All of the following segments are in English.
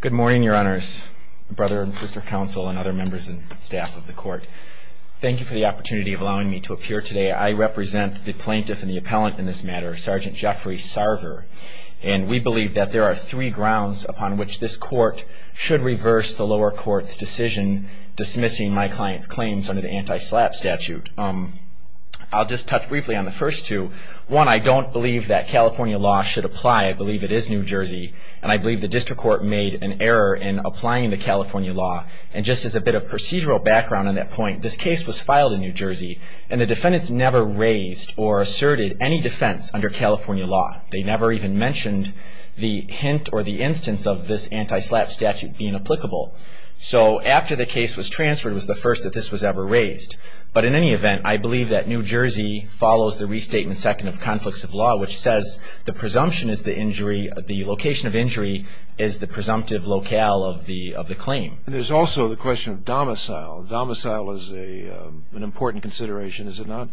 Good morning, your honors, brother and sister counsel, and other members and staff of the court. Thank you for the opportunity of allowing me to appear today. I represent the plaintiff and the appellant in this matter, Sgt. Jeffrey Sarver, and we believe that there are three grounds upon which this court should reverse the lower court's decision dismissing my client's claims under the anti-SLAPP statute. I'll just touch briefly on the first two. One, I don't believe that California law should apply. I believe it is New Jersey, and I believe the district court made an error in applying the California law. And just as a bit of procedural background on that point, this case was filed in New Jersey, and the defendants never raised or asserted any defense under California law. They never even mentioned the hint or the instance of this anti-SLAPP statute being applicable. So after the case was transferred was the first that this was ever raised. But in any event, I believe that New Jersey follows the restatement second of conflicts of law, which says the presumption is the injury, the location of injury is the presumptive locale of the claim. There's also the question of domicile. Domicile is an important consideration, is it not?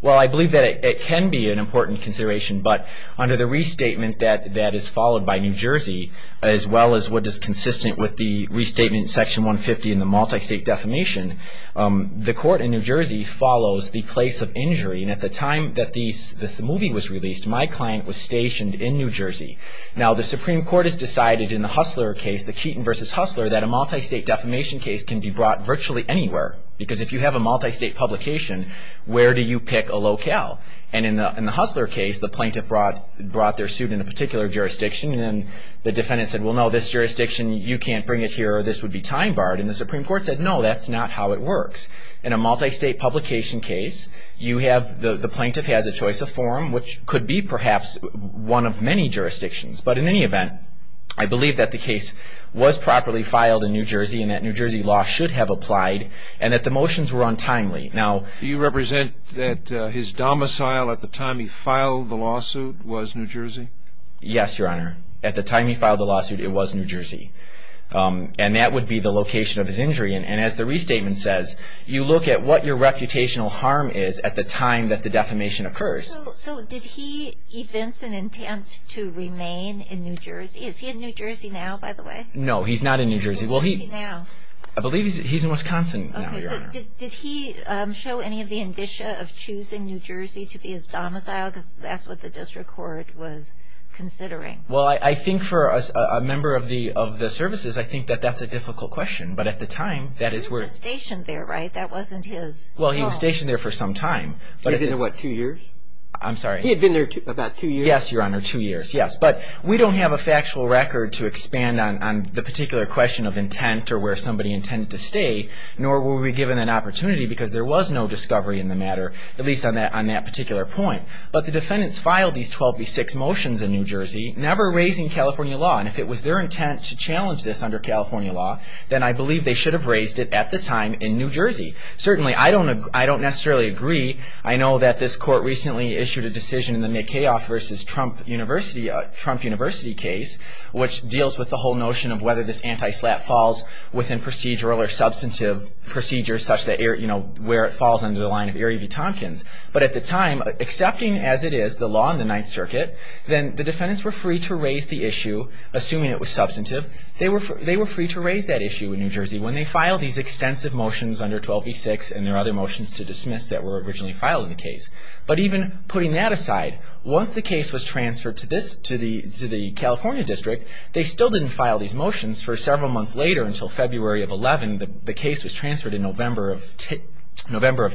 Well, I believe that it can be an important consideration, but under the restatement that is followed by New Jersey, as well as what is consistent with the restatement in Section 150 in the multi-state defamation, the court in New Jersey follows the place of injury. And at the time that this movie was released, my client was stationed in New Jersey. Now, the Supreme Court has decided in the Hustler case, the Keaton v. Hustler, that a multi-state defamation case can be brought virtually anywhere. Because if you have a multi-state publication, where do you pick a locale? And in the Hustler case, the plaintiff brought their suit in a particular jurisdiction, and then the defendant said, well, no, this jurisdiction, you can't bring it here, or this would be time-barred. And the Supreme Court said, no, that's not how it works. In a multi-state publication case, you have the plaintiff has a choice of form, which could be perhaps one of many jurisdictions. But in any event, I believe that the case was properly filed in New Jersey, and that New Jersey law should have applied, and that the motions were untimely. Now, do you represent that his domicile at the time he filed the lawsuit was New Jersey? Yes, Your Honor. At the time he filed the lawsuit, it was New Jersey. And that would be the location of his injury. And as the restatement says, you look at what your reputational harm is at the time that the defamation occurs. So did he evince an intent to remain in New Jersey? Is he in New Jersey now, by the way? No, he's not in New Jersey. Where is he now? I believe he's in Wisconsin now, Your Honor. Okay. So did he show any of the indicia of choosing New Jersey to be his domicile? Because that's what the district court was considering. Well, I think for a member of the services, I think that that's a difficult question. But at the time, that is where he was stationed there, right? That wasn't his home. Well, he was stationed there for some time. He had been there, what, two years? I'm sorry? He had been there about two years? Yes, Your Honor, two years, yes. But we don't have a factual record to expand on the particular question of intent or where somebody intended to stay, nor were we given an opportunity because there was no discovery in the matter, at least on that particular point. But the defendants filed these 12B6 motions in New Jersey, never raising California law. And if it was their intent to challenge this under California law, then I believe they should have raised it at the time in New Jersey. Certainly, I don't necessarily agree. I know that this court recently issued a decision in the Mikheov v. Trump University case, which deals with the whole notion of whether this anti-SLAPP falls within procedural or substantive procedures, such that, you know, where it falls under the line of Erie v. Tompkins. But at the time, accepting as it is the law in the Ninth Circuit, then the defendants were free to raise the issue, assuming it was substantive. They were free to raise that issue in New Jersey when they filed these extensive motions under 12B6 and there are other motions to dismiss that were originally filed in the case. But even putting that aside, once the case was transferred to the California district, they still didn't file these motions for several months later until February of 11. The case was transferred in November of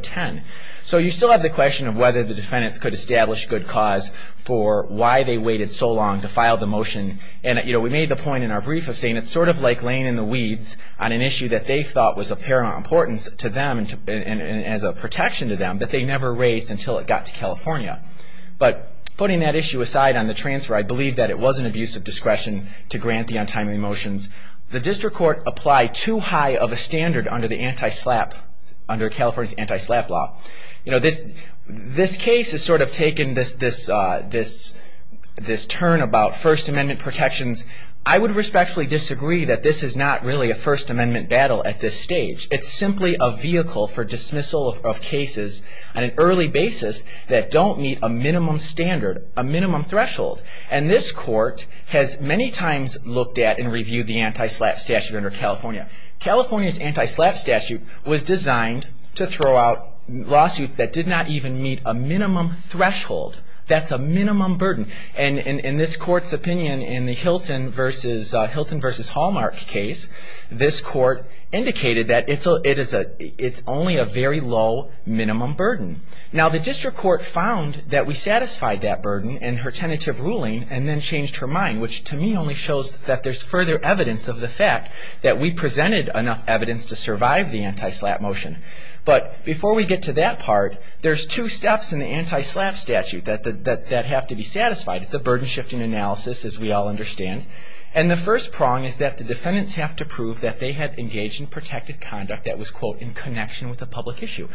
10. So you still have the question of whether the defendants could establish good cause for why they waited so long to file the motion. And, you know, we made the point in our brief of saying it's sort of like laying in the weeds on an issue that they thought was of paramount importance to them and as a protection to them that they never raised until it got to California. But putting that issue aside on the transfer, I believe that it was an abuse of discretion to grant the untimely motions. The district court applied too high of a standard under the anti-SLAPP, under California's anti-SLAPP law. You know, this case has sort of taken this turn about First Amendment protections. I would respectfully disagree that this is not really a First Amendment battle at this stage. It's simply a vehicle for dismissal of cases on an early basis that don't meet a minimum standard, a minimum threshold. And this court has many times looked at and reviewed the anti-SLAPP statute under California. California's anti-SLAPP statute was designed to throw out lawsuits that did not even meet a minimum threshold. That's a minimum burden. And in this court's opinion in the Hilton v. Hallmark case, this court indicated that it's only a very low minimum burden. Now, the district court found that we satisfied that burden in her tentative ruling and then changed her mind, which to me only shows that there's further evidence of the fact that we presented enough evidence to survive the anti-SLAPP motion. But before we get to that part, there's two steps in the anti-SLAPP statute that have to be satisfied. It's a burden-shifting analysis, as we all understand. And the first prong is that the defendants have to prove that they had engaged in protected conduct that was, quote, in connection with a public issue.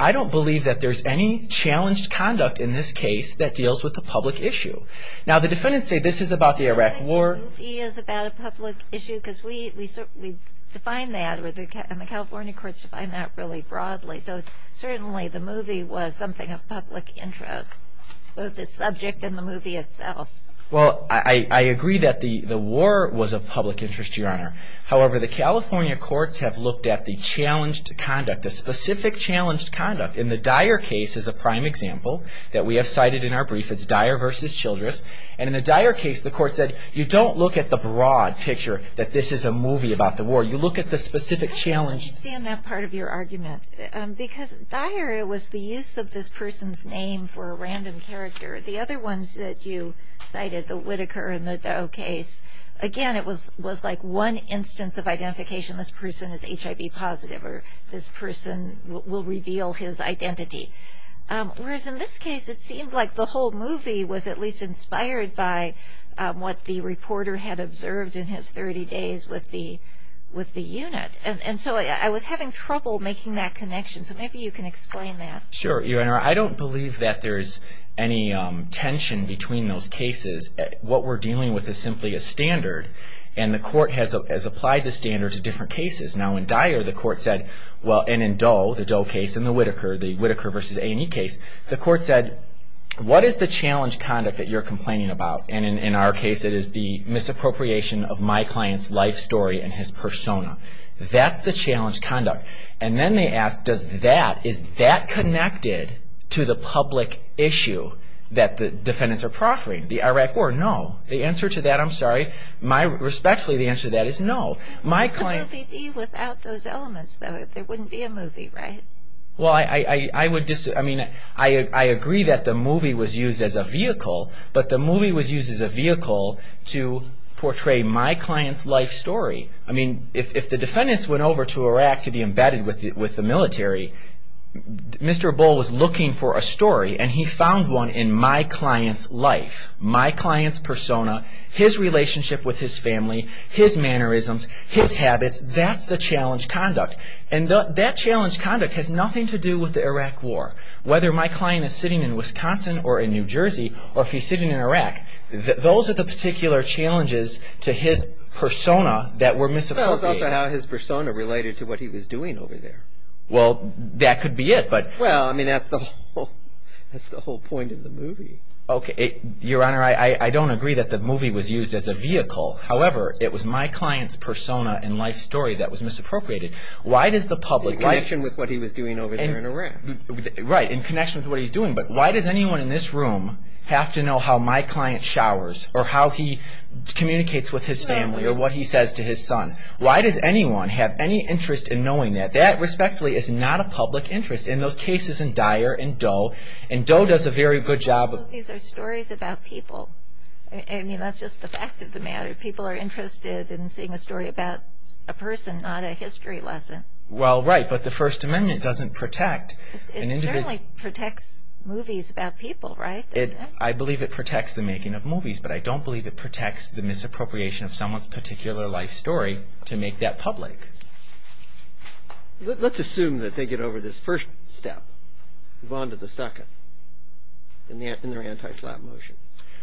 I don't believe that there's any challenged conduct in this case that deals with a public issue. Now, the defendants say this is about the Iraq War. I don't think the movie is about a public issue because we define that, and the California courts define that really broadly. So certainly the movie was something of public interest, both the subject and the movie itself. Well, I agree that the war was of public interest, Your Honor. However, the California courts have looked at the challenged conduct, the specific challenged conduct. In the Dyer case is a prime example that we have cited in our brief. It's Dyer v. Childress. And in the Dyer case, the court said you don't look at the broad picture that this is a movie about the war. You look at the specific challenge. I don't understand that part of your argument. Because Dyer, it was the use of this person's name for a random character. The other ones that you cited, the Whitaker and the Doe case, again, it was like one instance of identification. This person is HIV positive or this person will reveal his identity. Whereas in this case, it seemed like the whole movie was at least inspired by what the reporter had observed in his 30 days with the unit. And so I was having trouble making that connection. So maybe you can explain that. Sure, Your Honor. I don't believe that there's any tension between those cases. What we're dealing with is simply a standard, and the court has applied the standard to different cases. Now, in Dyer, the court said, and in Doe, the Doe case, and the Whitaker, the Whitaker v. A&E case, the court said, what is the challenge conduct that you're complaining about? And in our case, it is the misappropriation of my client's life story and his persona. That's the challenge conduct. And then they asked, is that connected to the public issue that the defendants are proffering, the Iraq War? No. The answer to that, I'm sorry, respectfully, the answer to that is no. What would the movie be without those elements, though, if there wouldn't be a movie, right? Well, I would disagree. I mean, I agree that the movie was used as a vehicle, but the movie was used as a vehicle to portray my client's life story. I mean, if the defendants went over to Iraq to be embedded with the military, Mr. Bull was looking for a story, and he found one in my client's life, my client's persona, his relationship with his family, his mannerisms, his habits. That's the challenge conduct. And that challenge conduct has nothing to do with the Iraq War. Whether my client is sitting in Wisconsin or in New Jersey or if he's sitting in Iraq, those are the particular challenges to his persona that were misappropriated. Well, it's also how his persona related to what he was doing over there. Well, that could be it. Well, I mean, that's the whole point of the movie. Okay. Your Honor, I don't agree that the movie was used as a vehicle. However, it was my client's persona and life story that was misappropriated. Why does the public— In connection with what he was doing over there in Iraq. Right, in connection with what he was doing. But why does anyone in this room have to know how my client showers or how he communicates with his family or what he says to his son? Why does anyone have any interest in knowing that? That, respectfully, is not a public interest. And those cases in Dyer and Doe, and Doe does a very good job of— Movies are stories about people. I mean, that's just the fact of the matter. People are interested in seeing a story about a person, not a history lesson. Well, right, but the First Amendment doesn't protect an individual. It generally protects movies about people, right? I believe it protects the making of movies, but I don't believe it protects the misappropriation of someone's particular life story to make that public. Let's assume that they get over this first step, move on to the second, in their anti-slap motion.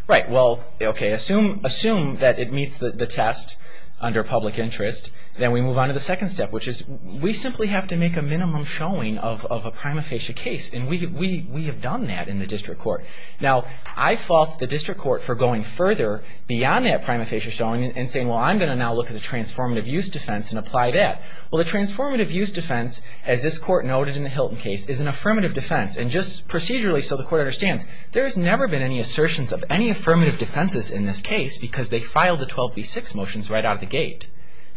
Right, well, okay, assume that it meets the test under public interest, then we move on to the second step, which is we simply have to make a minimum showing of a prima facie case, and we have done that in the district court. Now, I fault the district court for going further beyond that prima facie showing and saying, well, I'm going to now look at the transformative use defense and apply that. Well, the transformative use defense, as this court noted in the Hilton case, is an affirmative defense, and just procedurally so the court understands, there has never been any assertions of any affirmative defenses in this case because they filed the 12b-6 motions right out of the gate.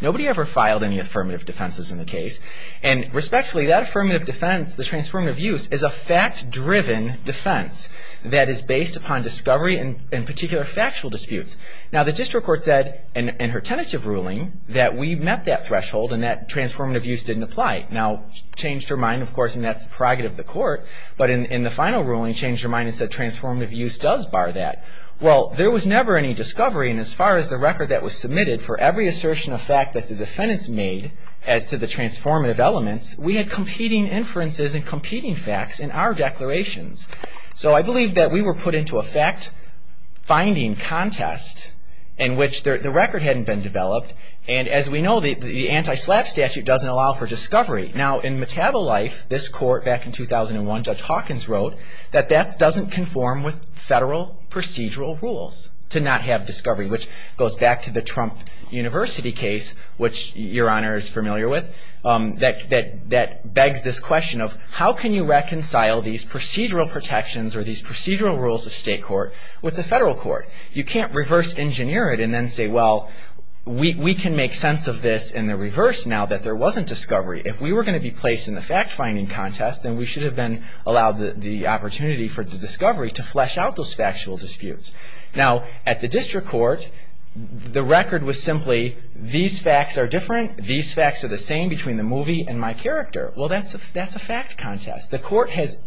Nobody ever filed any affirmative defenses in the case, and respectfully, that affirmative defense, the transformative use, is a fact-driven defense that is based upon discovery and particular factual disputes. Now, the district court said in her tentative ruling that we met that threshold and that transformative use didn't apply. Now, changed her mind, of course, and that's the prerogative of the court, but in the final ruling changed her mind and said transformative use does bar that. Well, there was never any discovery, and as far as the record that was submitted for every assertion of fact that the defendants made as to the transformative elements, we had competing inferences and competing facts in our declarations. So I believe that we were put into a fact-finding contest in which the record hadn't been developed, and as we know, the anti-SLAPP statute doesn't allow for discovery. Now, in Metabolife, this court back in 2001, Judge Hawkins wrote, that that doesn't conform with federal procedural rules to not have discovery, which goes back to the Trump University case, which Your Honor is familiar with, that begs this question of how can you reconcile these procedural protections or these procedural rules of state court with the federal court? You can't reverse-engineer it and then say, well, we can make sense of this in the reverse now that there wasn't discovery. If we were going to be placed in the fact-finding contest, then we should have been allowed the opportunity for discovery to flesh out those factual disputes. Now, at the district court, the record was simply these facts are different, these facts are the same between the movie and my character. Well, that's a fact contest. The court has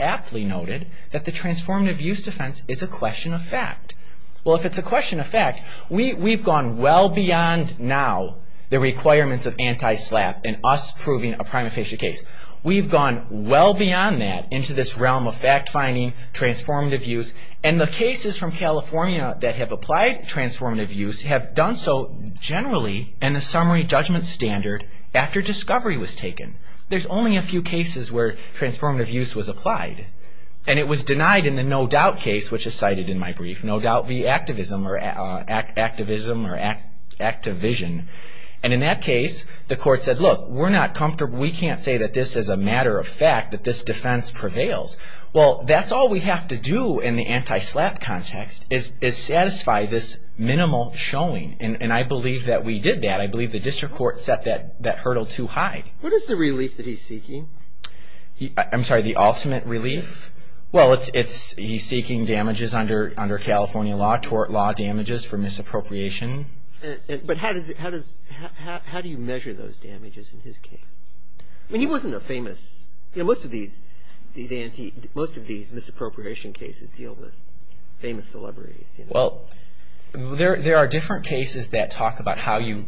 aptly noted that the transformative use defense is a question of fact. Well, if it's a question of fact, we've gone well beyond now the requirements of anti-SLAPP and us proving a prima facie case. We've gone well beyond that into this realm of fact-finding, transformative use, and the cases from California that have applied transformative use have done so generally in the summary judgment standard after discovery was taken. There's only a few cases where transformative use was applied, and it was denied in the no-doubt case, which is cited in my brief, no-doubt via activism or activision. And in that case, the court said, look, we're not comfortable. We can't say that this is a matter of fact, that this defense prevails. Well, that's all we have to do in the anti-SLAPP context is satisfy this minimal showing, and I believe that we did that. I believe the district court set that hurdle too high. What is the relief that he's seeking? I'm sorry, the ultimate relief? Well, he's seeking damages under California law, tort law, damages for misappropriation. But how do you measure those damages in his case? I mean, he wasn't a famous, you know, most of these misappropriation cases deal with famous celebrities. Well, there are different cases that talk about how you...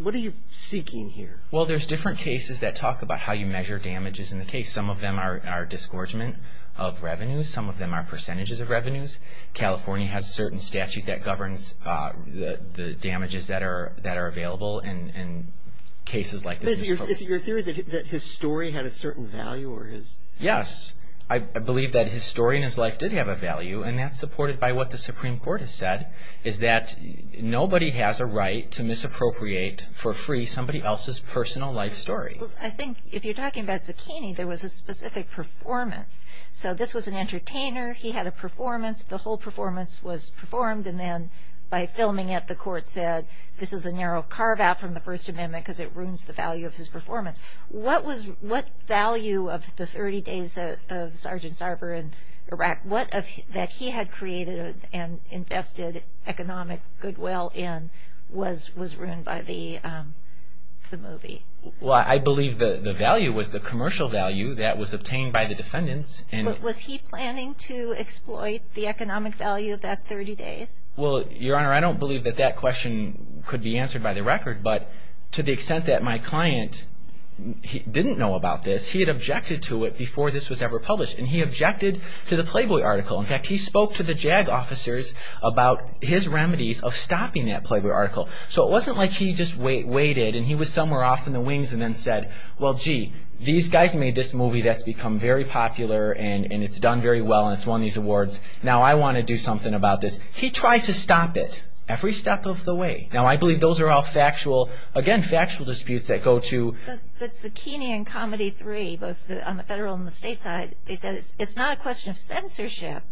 What are you seeking here? Well, there's different cases that talk about how you measure damages in the case. Some of them are disgorgement of revenues. Some of them are percentages of revenues. California has a certain statute that governs the damages that are available in cases like this. But is it your theory that his story had a certain value or his... Yes, I believe that his story and his life did have a value, and that's supported by what the Supreme Court has said, is that nobody has a right to misappropriate for free somebody else's personal life story. I think if you're talking about Zucchini, there was a specific performance. So this was an entertainer. He had a performance. The whole performance was performed, and then by filming it, the court said, this is a narrow carve-out from the First Amendment because it ruins the value of his performance. What value of the 30 days of Sergeant Sarver in Iraq that he had created and invested economic goodwill in was ruined by the movie? Well, I believe the value was the commercial value that was obtained by the defendants. Was he planning to exploit the economic value of that 30 days? Well, Your Honor, I don't believe that that question could be answered by the record, but to the extent that my client didn't know about this, he had objected to it before this was ever published, and he objected to the Playboy article. In fact, he spoke to the JAG officers about his remedies of stopping that Playboy article. So it wasn't like he just waited, and he was somewhere off in the wings and then said, well, gee, these guys made this movie that's become very popular, and it's done very well, and it's won these awards. Now I want to do something about this. He tried to stop it every step of the way. Now I believe those are all factual, again, factual disputes that go to... But Zucchini and Comedy 3, both on the federal and the state side, they said it's not a question of censorship.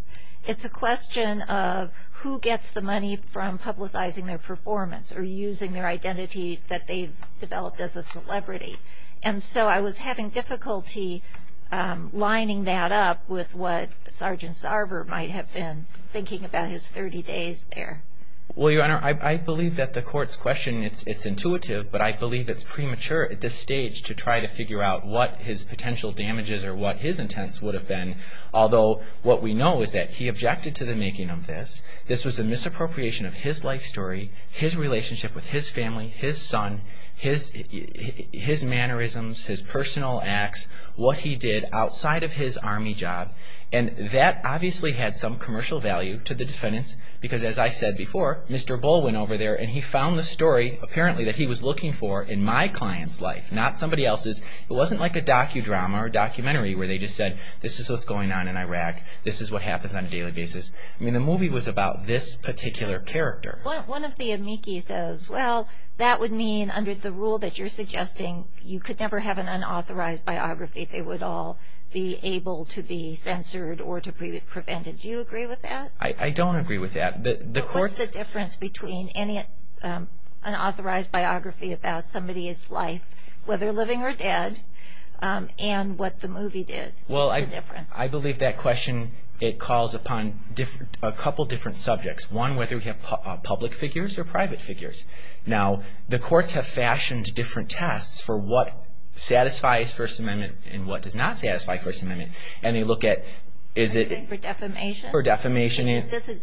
It's a question of who gets the money from publicizing their performance or using their identity that they've developed as a celebrity. And so I was having difficulty lining that up with what Sergeant Sarver might have been thinking about his 30 days there. Well, Your Honor, I believe that the court's question, it's intuitive, but I believe it's premature at this stage to try to figure out what his potential damages or what his intents would have been, although what we know is that he objected to the making of this. This was a misappropriation of his life story, his relationship with his family, his son, his mannerisms, his personal acts, what he did outside of his Army job. And that obviously had some commercial value to the defendants because, as I said before, Mr. Bull went over there and he found the story, apparently, that he was looking for in my client's life, not somebody else's. It wasn't like a docudrama or documentary where they just said, this is what's going on in Iraq, this is what happens on a daily basis. I mean, the movie was about this particular character. One of the amici says, well, that would mean, under the rule that you're suggesting, you could never have an unauthorized biography. They would all be able to be censored or to be prevented. Do you agree with that? I don't agree with that. What's the difference between an unauthorized biography about somebody's life, whether living or dead, and what the movie did? What's the difference? Well, I believe that question, it calls upon a couple different subjects. One, whether we have public figures or private figures. Now, the courts have fashioned different tests for what satisfies First Amendment and what does not satisfy First Amendment. And they look at, is it for defamation?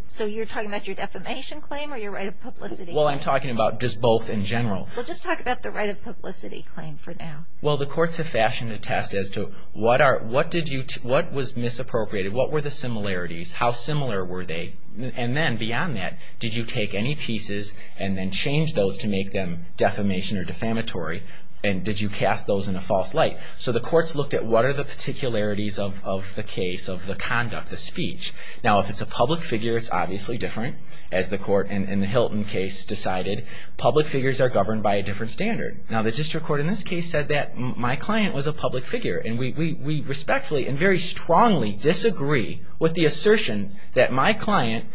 So you're talking about your defamation claim or your right of publicity? Well, I'm talking about just both in general. Well, just talk about the right of publicity claim for now. Well, the courts have fashioned a test as to what was misappropriated? What were the similarities? How similar were they? And then, beyond that, did you take any pieces and then change those to make them defamation or defamatory? And did you cast those in a false light? So the courts looked at what are the particularities of the case, of the conduct, the speech. Now, if it's a public figure, it's obviously different. As the court in the Hilton case decided, public figures are governed by a different standard. Now, the district court in this case said that my client was a public figure. And we respectfully and very strongly disagree with the assertion that my client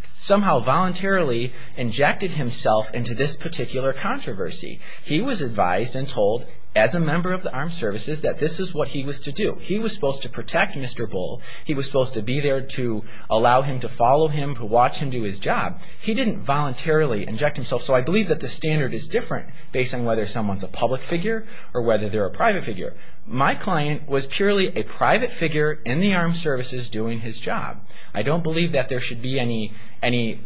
somehow voluntarily injected himself into this particular controversy. He was advised and told, as a member of the armed services, that this is what he was to do. He was supposed to protect Mr. Bull. He was supposed to be there to allow him to follow him, to watch him do his job. He didn't voluntarily inject himself. So I believe that the standard is different based on whether someone's a public figure or whether they're a private figure. My client was purely a private figure in the armed services doing his job. I don't believe that there should be any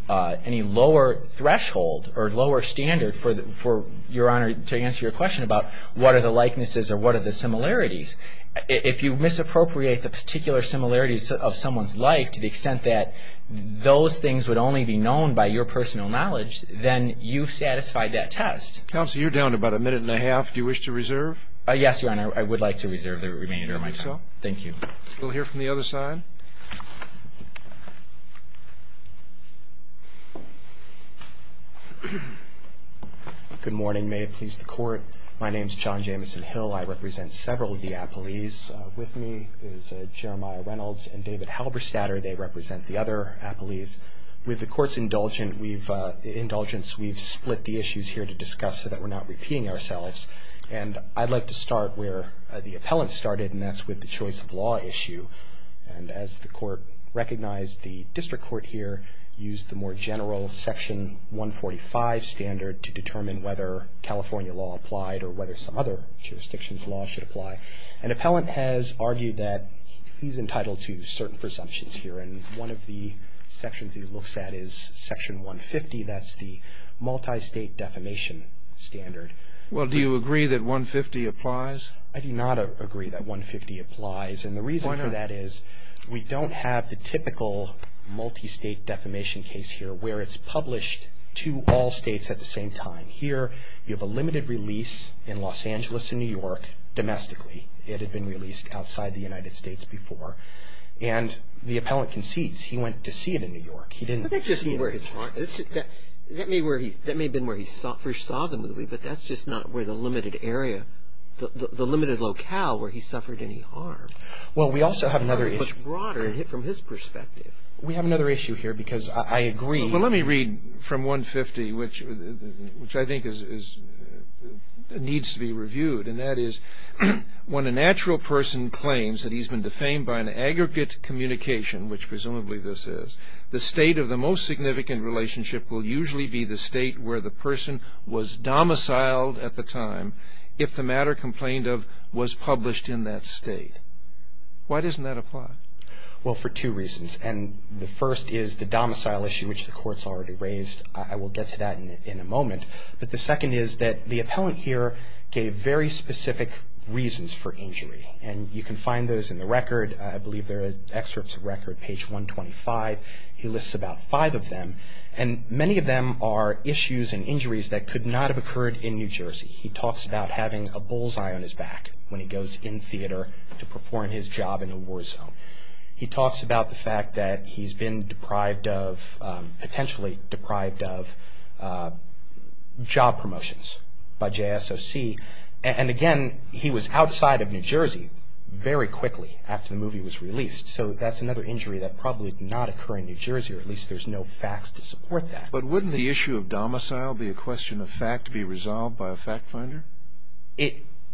lower threshold or lower standard for Your Honor to answer your question about what are the likenesses or what are the similarities. If you misappropriate the particular similarities of someone's life to the extent that those things would only be known by your personal knowledge, then you've satisfied that test. Counsel, you're down to about a minute and a half. Do you wish to reserve? Yes, Your Honor. I would like to reserve the remainder of my time. Thank you. We'll hear from the other side. Good morning. May it please the Court. My name is John Jamison Hill. I represent several of the appellees. With me is Jeremiah Reynolds and David Halberstadter. They represent the other appellees. With the Court's indulgence, we've split the issues here to discuss so that we're not repeating ourselves. And I'd like to start where the appellant started, and that's with the choice of law issue. And as the Court recognized, the district court here used the more general Section 145 standard to determine whether California law applied or whether some other jurisdiction's law should apply. An appellant has argued that he's entitled to certain presumptions here, and one of the sections he looks at is Section 150. That's the multi-state defamation standard. Well, do you agree that 150 applies? I do not agree that 150 applies. And the reason for that is we don't have the typical multi-state defamation case here where it's published to all states at the same time. Here you have a limited release in Los Angeles and New York domestically. It had been released outside the United States before. And the appellant concedes. He went to see it in New York. He didn't see it. That may have been where he first saw the movie, but that's just not where the limited area, the limited locale where he suffered any harm. Well, we also have another issue. It's broader from his perspective. We have another issue here because I agree. Well, let me read from 150, which I think needs to be reviewed, and that is, when a natural person claims that he's been defamed by an aggregate communication, which presumably this is, the state of the most significant relationship will usually be the state where the person was domiciled at the time, if the matter complained of was published in that state. Why doesn't that apply? Well, for two reasons. And the first is the domicile issue, which the Court's already raised. I will get to that in a moment. But the second is that the appellant here gave very specific reasons for injury. And you can find those in the record. I believe there are excerpts of record, page 125. He lists about five of them. And many of them are issues and injuries that could not have occurred in New Jersey. He talks about having a bull's eye on his back when he goes in theater to perform his job in a war zone. He talks about the fact that he's been deprived of, potentially deprived of, job promotions by JSOC. And again, he was outside of New Jersey very quickly after the movie was released. So that's another injury that probably did not occur in New Jersey, or at least there's no facts to support that. But wouldn't the issue of domicile be a question of fact to be resolved by a fact finder?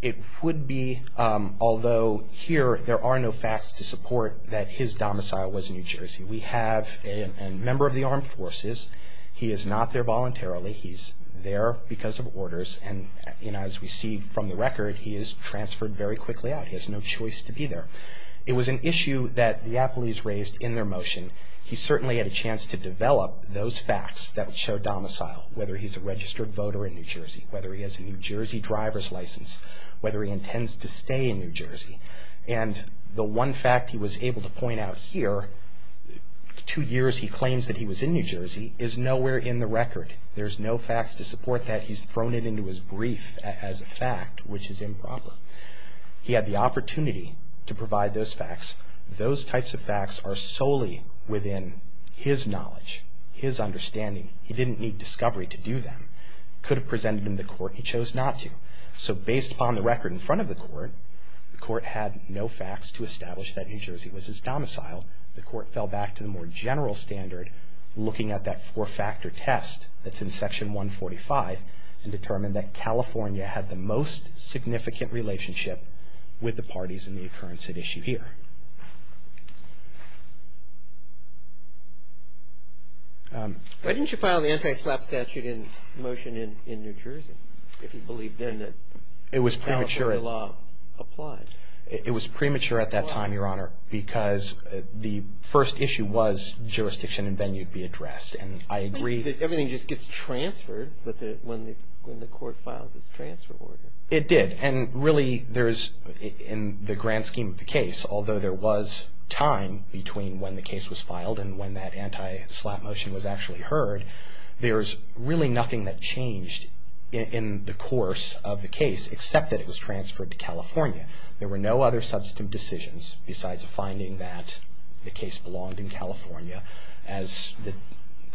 It would be, although here there are no facts to support that his domicile was New Jersey. We have a member of the armed forces. He is not there voluntarily. He's there because of orders. And as we see from the record, he is transferred very quickly out. He has no choice to be there. It was an issue that the appellees raised in their motion. He certainly had a chance to develop those facts that would show domicile, whether he's a registered voter in New Jersey, whether he has a New Jersey driver's license, whether he intends to stay in New Jersey. And the one fact he was able to point out here, two years he claims that he was in New Jersey, is nowhere in the record. There's no facts to support that. He's thrown it into his brief as a fact, which is improper. He had the opportunity to provide those facts. Those types of facts are solely within his knowledge, his understanding. He didn't need discovery to do them. Could have presented them to the court, and he chose not to. So based upon the record in front of the court, the court had no facts to establish that New Jersey was his domicile. The court fell back to the more general standard, looking at that four-factor test that's in Section 145, and determined that California had the most significant relationship with the parties in the occurrence at issue here. Why didn't you file the anti-SLAPP statute in motion in New Jersey, if you believed then that California law applied? It was premature at that time, Your Honor, because the first issue was jurisdiction and venue to be addressed, and I agree. Everything just gets transferred when the court files its transfer order. It did, and really there's, in the grand scheme of the case, although there was time between when the case was filed and when that anti-SLAPP motion was actually heard, there's really nothing that changed in the course of the case, except that it was transferred to California. There were no other substantive decisions besides the finding that the case belonged in California. As the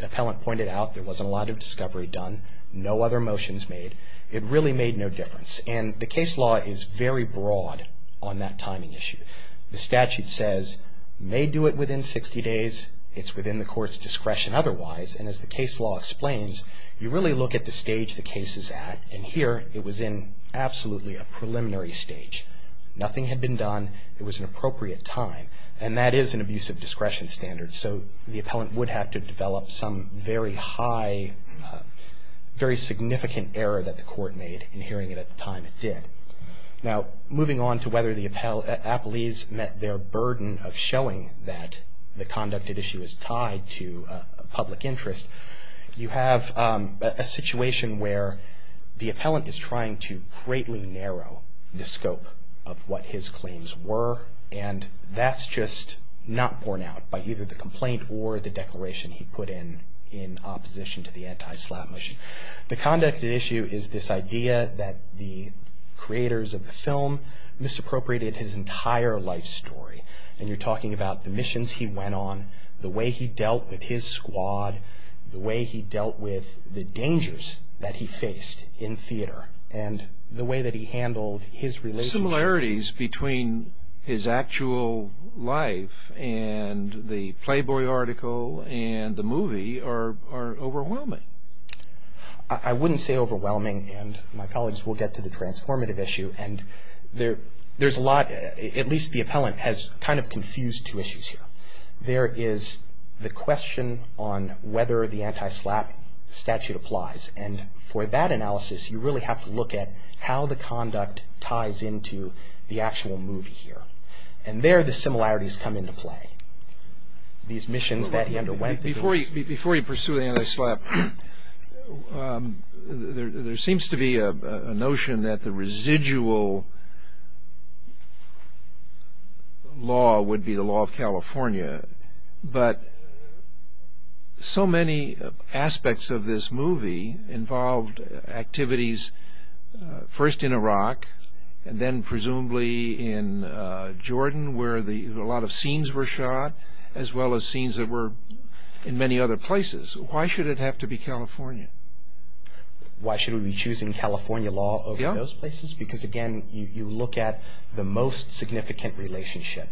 appellant pointed out, there wasn't a lot of discovery done. No other motions made. It really made no difference, and the case law is very broad on that timing issue. The statute says, may do it within 60 days. It's within the court's discretion otherwise, and as the case law explains, you really look at the stage the case is at, and here it was in absolutely a preliminary stage. Nothing had been done. It was an appropriate time, and that is an abusive discretion standard, so the appellant would have to develop some very high, very significant error that the court made in hearing it at the time it did. Now, moving on to whether the appellees met their burden of showing that the conducted issue is tied to a public interest, you have a situation where the appellant is trying to greatly narrow the scope of what his claims were, and that's just not borne out by either the complaint or the declaration he put in in opposition to the anti-slap motion. The conducted issue is this idea that the creators of the film misappropriated his entire life story, and you're talking about the missions he went on, the way he dealt with his squad, the way he dealt with the dangers that he faced in theater, and the way that he handled his relationship. The similarities between his actual life and the Playboy article and the movie are overwhelming. I wouldn't say overwhelming, and my colleagues will get to the transformative issue, and there's a lot, at least the appellant, has kind of confused two issues here. There is the question on whether the anti-slap statute applies, and for that analysis you really have to look at how the conduct ties into the actual movie here, and there the similarities come into play. These missions that he underwent. Before you pursue the anti-slap, there seems to be a notion that the residual law would be the law of California, but so many aspects of this movie involved activities first in Iraq, and then presumably in Jordan where a lot of scenes were shot, as well as scenes that were in many other places. Why should it have to be California? Why should we be choosing California law over those places? Because, again, you look at the most significant relationship,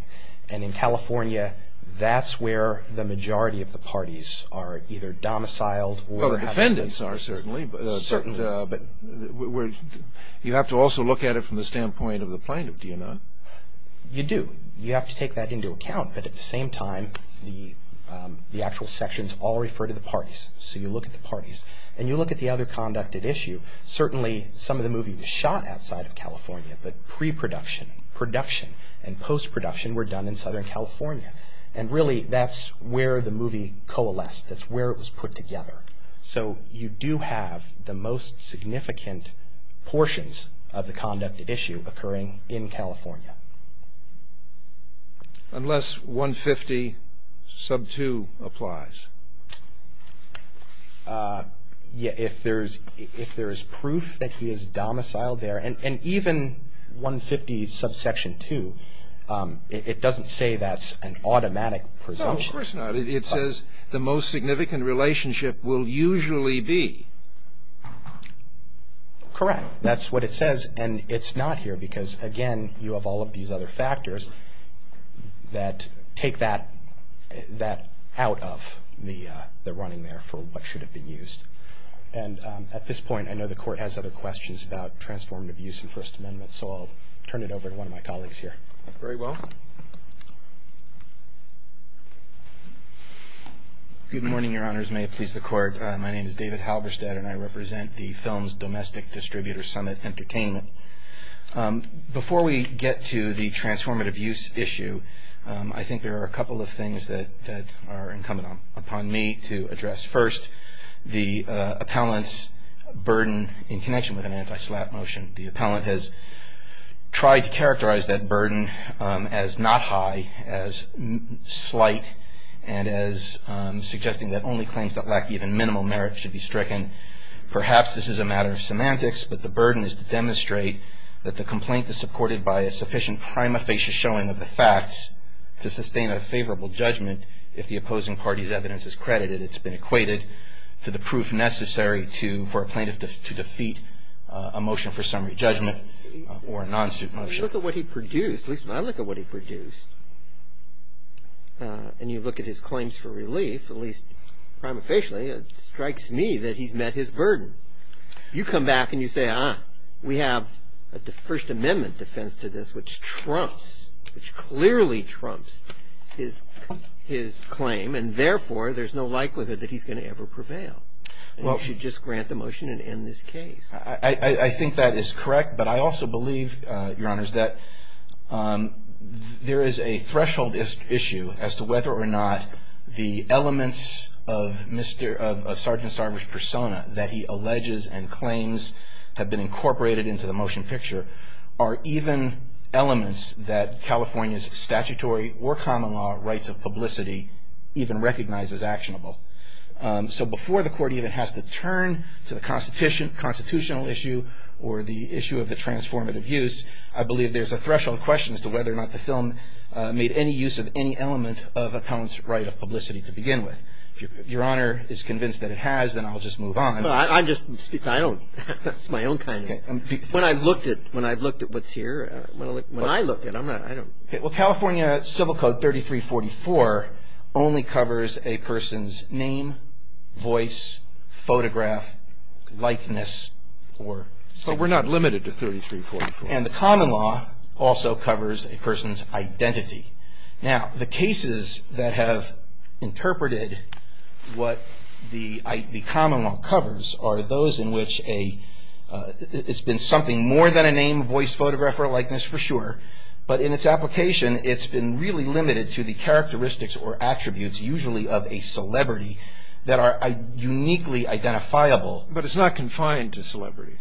and in California that's where the majority of the parties are either domiciled. Well, the defendants are certainly, but you have to also look at it from the standpoint of the plaintiff, do you not? You do. You have to take that into account, but at the same time the actual sections all refer to the parties, so you look at the parties, and you look at the other conduct at issue. Certainly some of the movie was shot outside of California, but pre-production, production, and post-production were done in Southern California, and really that's where the movie coalesced. That's where it was put together. So you do have the most significant portions of the conduct at issue occurring in California. Unless 150 sub 2 applies. If there is proof that he is domiciled there, and even 150 sub section 2, it doesn't say that's an automatic presumption. No, of course not. It says the most significant relationship will usually be. Correct. That's what it says, and it's not here because, again, you have all of these other factors that take that out of the running there for what should have been used. And at this point I know the Court has other questions about transformative use in First Amendment, so I'll turn it over to one of my colleagues here. Very well. Good morning, Your Honors. May it please the Court. My name is David Halberstadt, and I represent the Films Domestic Distributor Summit Entertainment. Before we get to the transformative use issue, I think there are a couple of things that are incumbent upon me to address. First, the appellant's burden in connection with an anti-SLAPP motion. The appellant has tried to characterize that burden as not high, as slight, and as suggesting that only claims that lack even minimal merit should be stricken. Perhaps this is a matter of semantics, but the burden is to demonstrate that the complaint is supported by a sufficient prima facie showing of the facts to sustain a favorable judgment if the opposing party's evidence is credited. It's been equated to the proof necessary for a plaintiff to defeat a motion for summary judgment or a non-suit motion. When you look at what he produced, at least when I look at what he produced, and you look at his claims for relief, at least prima facie, it strikes me that he's met his burden. You come back and you say, ah, we have a First Amendment defense to this which trumps, which clearly trumps his claim, and therefore there's no likelihood that he's going to ever prevail. You should just grant the motion and end this case. I think that is correct, but I also believe, Your Honors, that there is a threshold issue as to whether or not the elements of Sergeant Sarver's persona that he alleges and claims have been incorporated into the motion picture are even elements that California's statutory or common law rights of publicity even recognize as actionable. So before the court even has to turn to the constitutional issue or the issue of the transformative use, I believe there's a threshold question as to whether or not the film made any use of any element of a poet's right of publicity to begin with. If Your Honor is convinced that it has, then I'll just move on. I'm just speaking, I don't, that's my own kind of, when I've looked at what's here, when I look at it, I'm not, I don't. Well, California Civil Code 3344 only covers a person's name, voice, photograph, likeness, or. But we're not limited to 3344. And the common law also covers a person's identity. Now, the cases that have interpreted what the common law covers are those in which a, it's been something more than a name, voice, photograph, or likeness, for sure. But in its application, it's been really limited to the characteristics or attributes usually of a celebrity that are uniquely identifiable. But it's not confined to celebrities.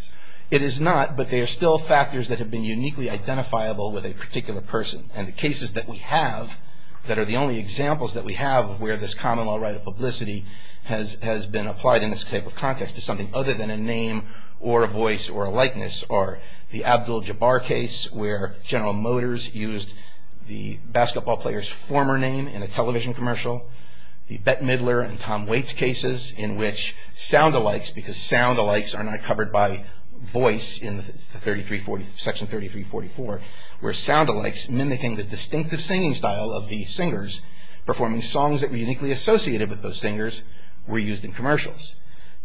It is not, but they are still factors that have been uniquely identifiable with a particular person. And the cases that we have, that are the only examples that we have where this common law right of publicity has, has been applied in this type of context to something other than a name or a voice or a likeness are the Abdul Jabbar case where General Motors used the basketball player's former name in a television commercial. The Bette Midler and Tom Waits cases in which sound-alikes, because sound-alikes are not covered by voice in the 3340, Section 3344, where sound-alikes mimicking the distinctive singing style of the singers, performing songs that were uniquely associated with those singers were used in commercials.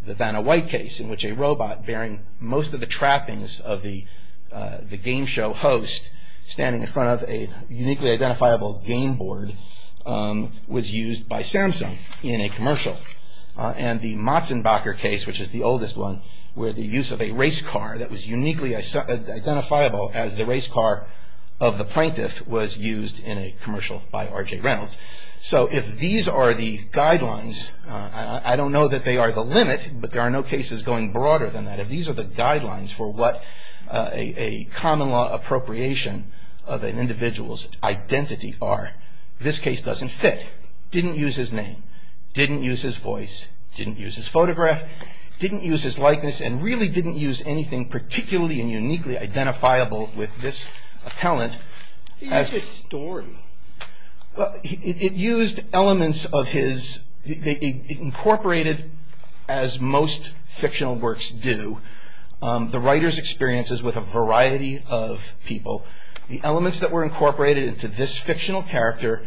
The Vanna White case in which a robot bearing most of the trappings of the, the game show host standing in front of a uniquely identifiable game board was used by Samsung in a commercial. And the Matzenbacher case, which is the oldest one, where the use of a race car that was uniquely identifiable as the race car of the plaintiff was used in a commercial by R.J. Reynolds. So if these are the guidelines, I don't know that they are the limit, but there are no cases going broader than that. If these are the guidelines for what a common law appropriation of an individual's identity are, this case doesn't fit. Didn't use his name, didn't use his voice, didn't use his photograph, didn't use his likeness, and really didn't use anything particularly and uniquely identifiable with this appellant. He used his story. It used elements of his, it incorporated, as most fictional works do, the writer's experiences with a variety of people. The elements that were incorporated into this fictional character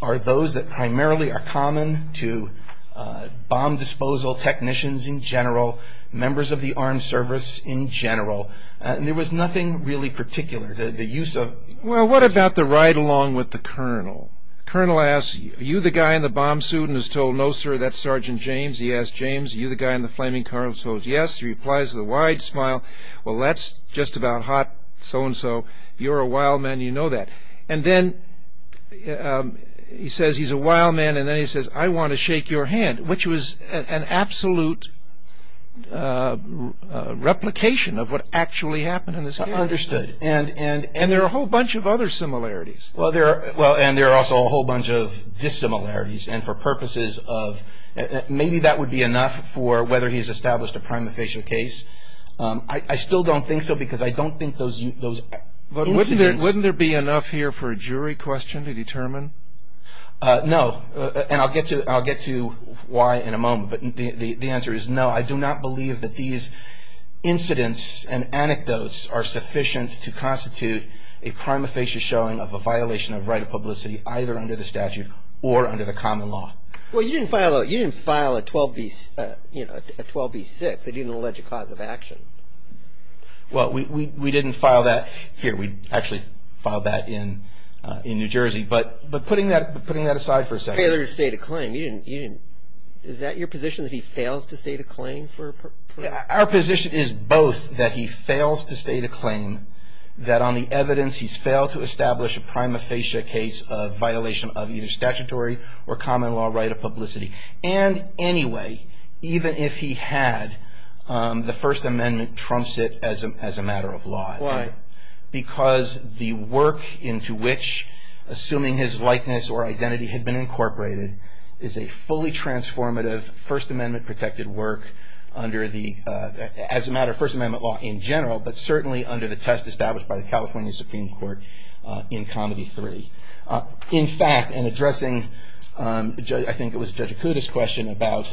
are those that primarily are common to bomb disposal technicians in general, members of the armed service in general, and there was nothing really particular. Well, what about the ride-along with the colonel? The colonel asks, Are you the guy in the bomb suit? And is told, No, sir, that's Sergeant James. He asks, James, are you the guy in the flaming car? And is told, Yes. He replies with a wide smile, Well, that's just about hot, so-and-so. You're a wild man, you know that. And then he says he's a wild man, and then he says, I want to shake your hand, which was an absolute replication of what actually happened in this case. And there are a whole bunch of other similarities. Well, and there are also a whole bunch of dissimilarities, and for purposes of, maybe that would be enough for whether he's established a prima facie case. I still don't think so, because I don't think those incidents- Wouldn't there be enough here for a jury question to determine? No, and I'll get to why in a moment, but the answer is no. I do not believe that these incidents and anecdotes are sufficient to constitute a prima facie showing of a violation of right of publicity, either under the statute or under the common law. Well, you didn't file a 12B6. They didn't allege a cause of action. Well, we didn't file that here. We actually filed that in New Jersey, but putting that aside for a second- Failure to state a claim. Is that your position, that he fails to state a claim? Our position is both, that he fails to state a claim, that on the evidence he's failed to establish a prima facie case of violation of either statutory or common law right of publicity, and anyway, even if he had, the First Amendment trumps it as a matter of law. Why? Because the work into which, assuming his likeness or identity had been incorporated, is a fully transformative First Amendment-protected work under the, as a matter of First Amendment law in general, but certainly under the test established by the California Supreme Court in Comedy 3. In fact, and addressing, I think it was Judge Acuda's question about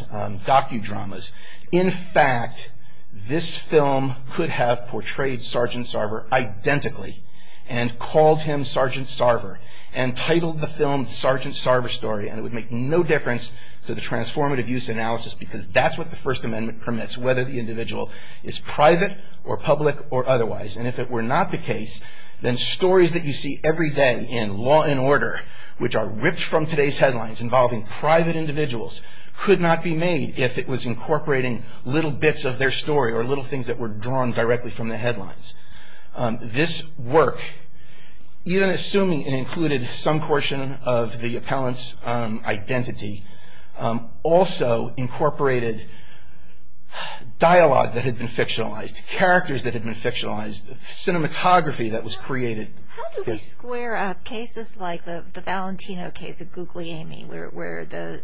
docudramas, in fact, this film could have portrayed Sergeant Sarver identically and called him Sergeant Sarver and titled the film Sergeant Sarver Story and it would make no difference to the transformative use analysis because that's what the First Amendment permits, whether the individual is private or public or otherwise, and if it were not the case, then stories that you see every day in Law & Order, which are ripped from today's headlines, involving private individuals, could not be made if it was incorporating little bits of their story or little things that were drawn directly from the headlines. This work, even assuming it included some portion of the appellant's identity, also incorporated dialogue that had been fictionalized, characters that had been fictionalized, cinematography that was created. How do we square up cases like the Valentino case of Googly Amy, where the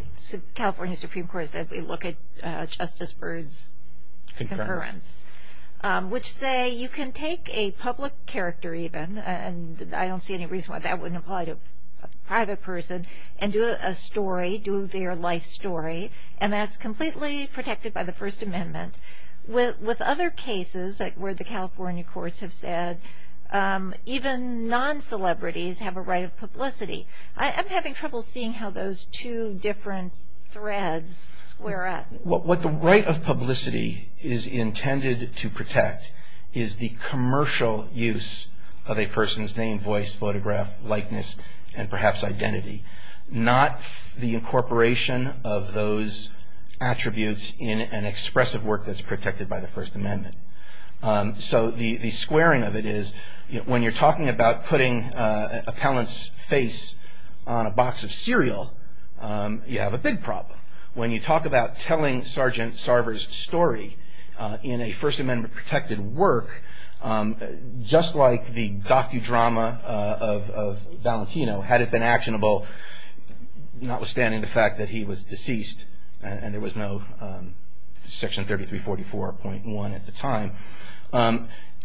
California Supreme Court said, we look at Justice Byrd's concurrence, which say you can take a public character even, and I don't see any reason why that wouldn't apply to a private person, and do a story, do their life story, and that's completely protected by the First Amendment. With other cases, like where the California courts have said, even non-celebrities have a right of publicity. I'm having trouble seeing how those two different threads square up. What the right of publicity is intended to protect is the commercial use of a person's name, voice, photograph, likeness, and perhaps identity, not the incorporation of those attributes in an expressive work that's protected by the First Amendment. So the squaring of it is, when you're talking about putting an appellant's face on a box of cereal, you have a big problem. When you talk about telling Sergeant Sarver's story in a First Amendment protected work, just like the docudrama of Valentino, had it been actionable, notwithstanding the fact that he was deceased, and there was no Section 3344.1 at the time,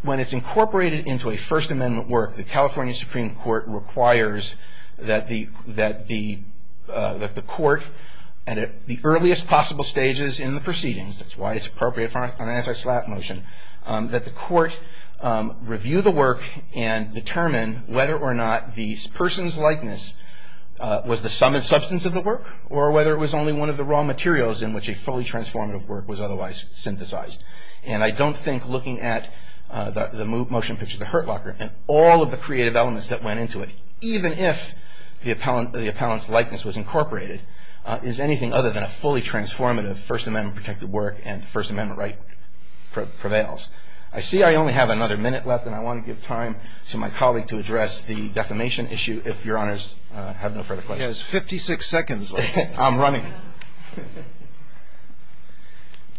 when it's incorporated into a First Amendment work, the California Supreme Court requires that the court at the earliest possible stages in the proceedings, that's why it's appropriate for an anti-slap motion, that the court review the work and determine whether or not the person's likeness was the sum and substance of the work or whether it was only one of the raw materials in which a fully transformative work was otherwise synthesized. And I don't think looking at the motion picture of the Hurt Locker and all of the creative elements that went into it, even if the appellant's likeness was incorporated, is anything other than a fully transformative First Amendment protected work and the First Amendment right prevails. I see I only have another minute left and I want to give time to my colleague to address the defamation issue, if Your Honors have no further questions. He has 56 seconds left. I'm running.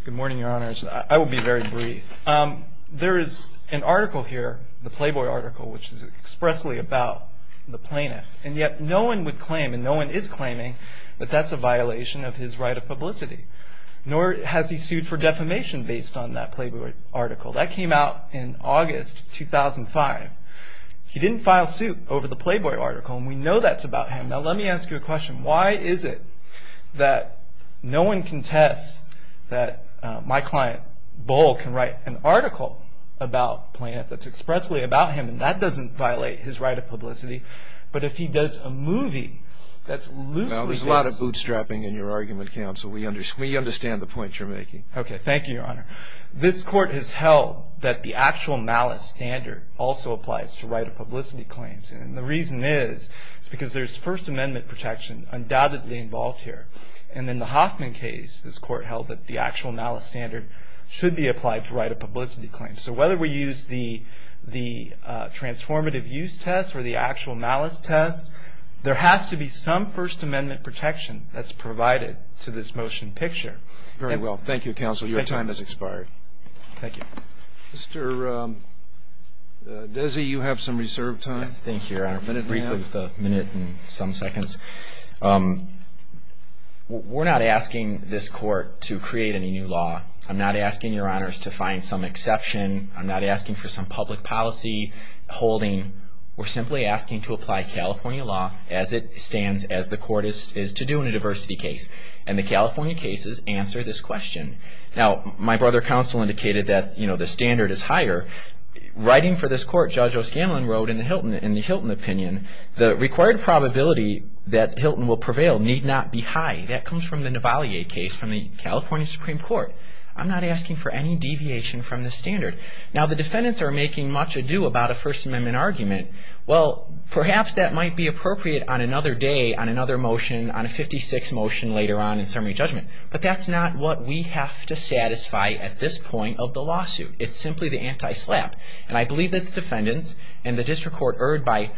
Good morning, Your Honors. I will be very brief. There is an article here, the Playboy article, which is expressly about the plaintiff, and yet no one would claim, and no one is claiming, that that's a violation of his right of publicity. Nor has he sued for defamation based on that Playboy article. That came out in August 2005. He didn't file suit over the Playboy article and we know that's about him. Now let me ask you a question. Why is it that no one contests that my client, Bull, can write an article and that doesn't violate his right of publicity, but if he does a movie that's loosely based... There's a lot of bootstrapping in your argument, Counsel. We understand the point you're making. Okay, thank you, Your Honor. This Court has held that the actual malice standard also applies to right of publicity claims and the reason is, is because there's First Amendment protection undoubtedly involved here and in the Hoffman case, this Court held that the actual malice standard should be applied to right of publicity claims. So whether we use the transformative use test or the actual malice test, there has to be some First Amendment protection that's provided to this motion picture. Very well. Thank you, Counsel. Your time has expired. Thank you. Mr. Desi, you have some reserved time. Yes, thank you, Your Honor. I'm going to brief you with a minute and some seconds. We're not asking this Court to create any new law. I'm not asking Your Honors to find some exception. I'm not asking for some public policy holding. We're simply asking to apply California law as it stands, as the Court is to do in a diversity case and the California cases answer this question. Now, my brother Counsel indicated that, you know, the standard is higher. Writing for this Court, Judge O'Scanlan wrote in the Hilton opinion, the required probability that Hilton will prevail need not be high. That comes from the Navalier case from the California Supreme Court. I'm not asking for any deviation from the standard. Now, the defendants are making much ado about a First Amendment argument. Well, perhaps that might be appropriate on another day, on another motion, on a 56 motion later on in summary judgment. But that's not what we have to satisfy at this point of the lawsuit. It's simply the anti-slap. And I believe that the defendants and the District Court erred by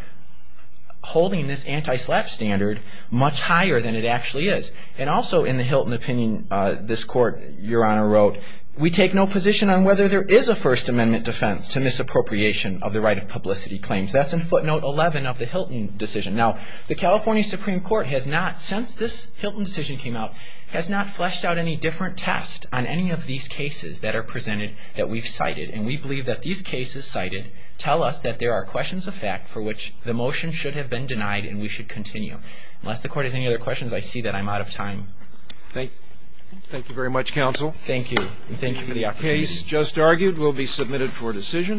holding this anti-slap standard much higher than it actually is. And also in the Hilton opinion, this Court, Your Honor, wrote, we take no position on whether there is a First Amendment defense to misappropriation of the right of publicity claims. That's in footnote 11 of the Hilton decision. Now, the California Supreme Court has not, since this Hilton decision came out, has not fleshed out any different test on any of these cases that are presented that we've cited. And we believe that these cases cited tell us that there are questions of fact for which the motion should have been denied and we should continue. Unless the Court has any other questions, I see that I'm out of time. Thank you very much, Counsel. Thank you. And thank you for the opportunity. The case just argued will be submitted for decision.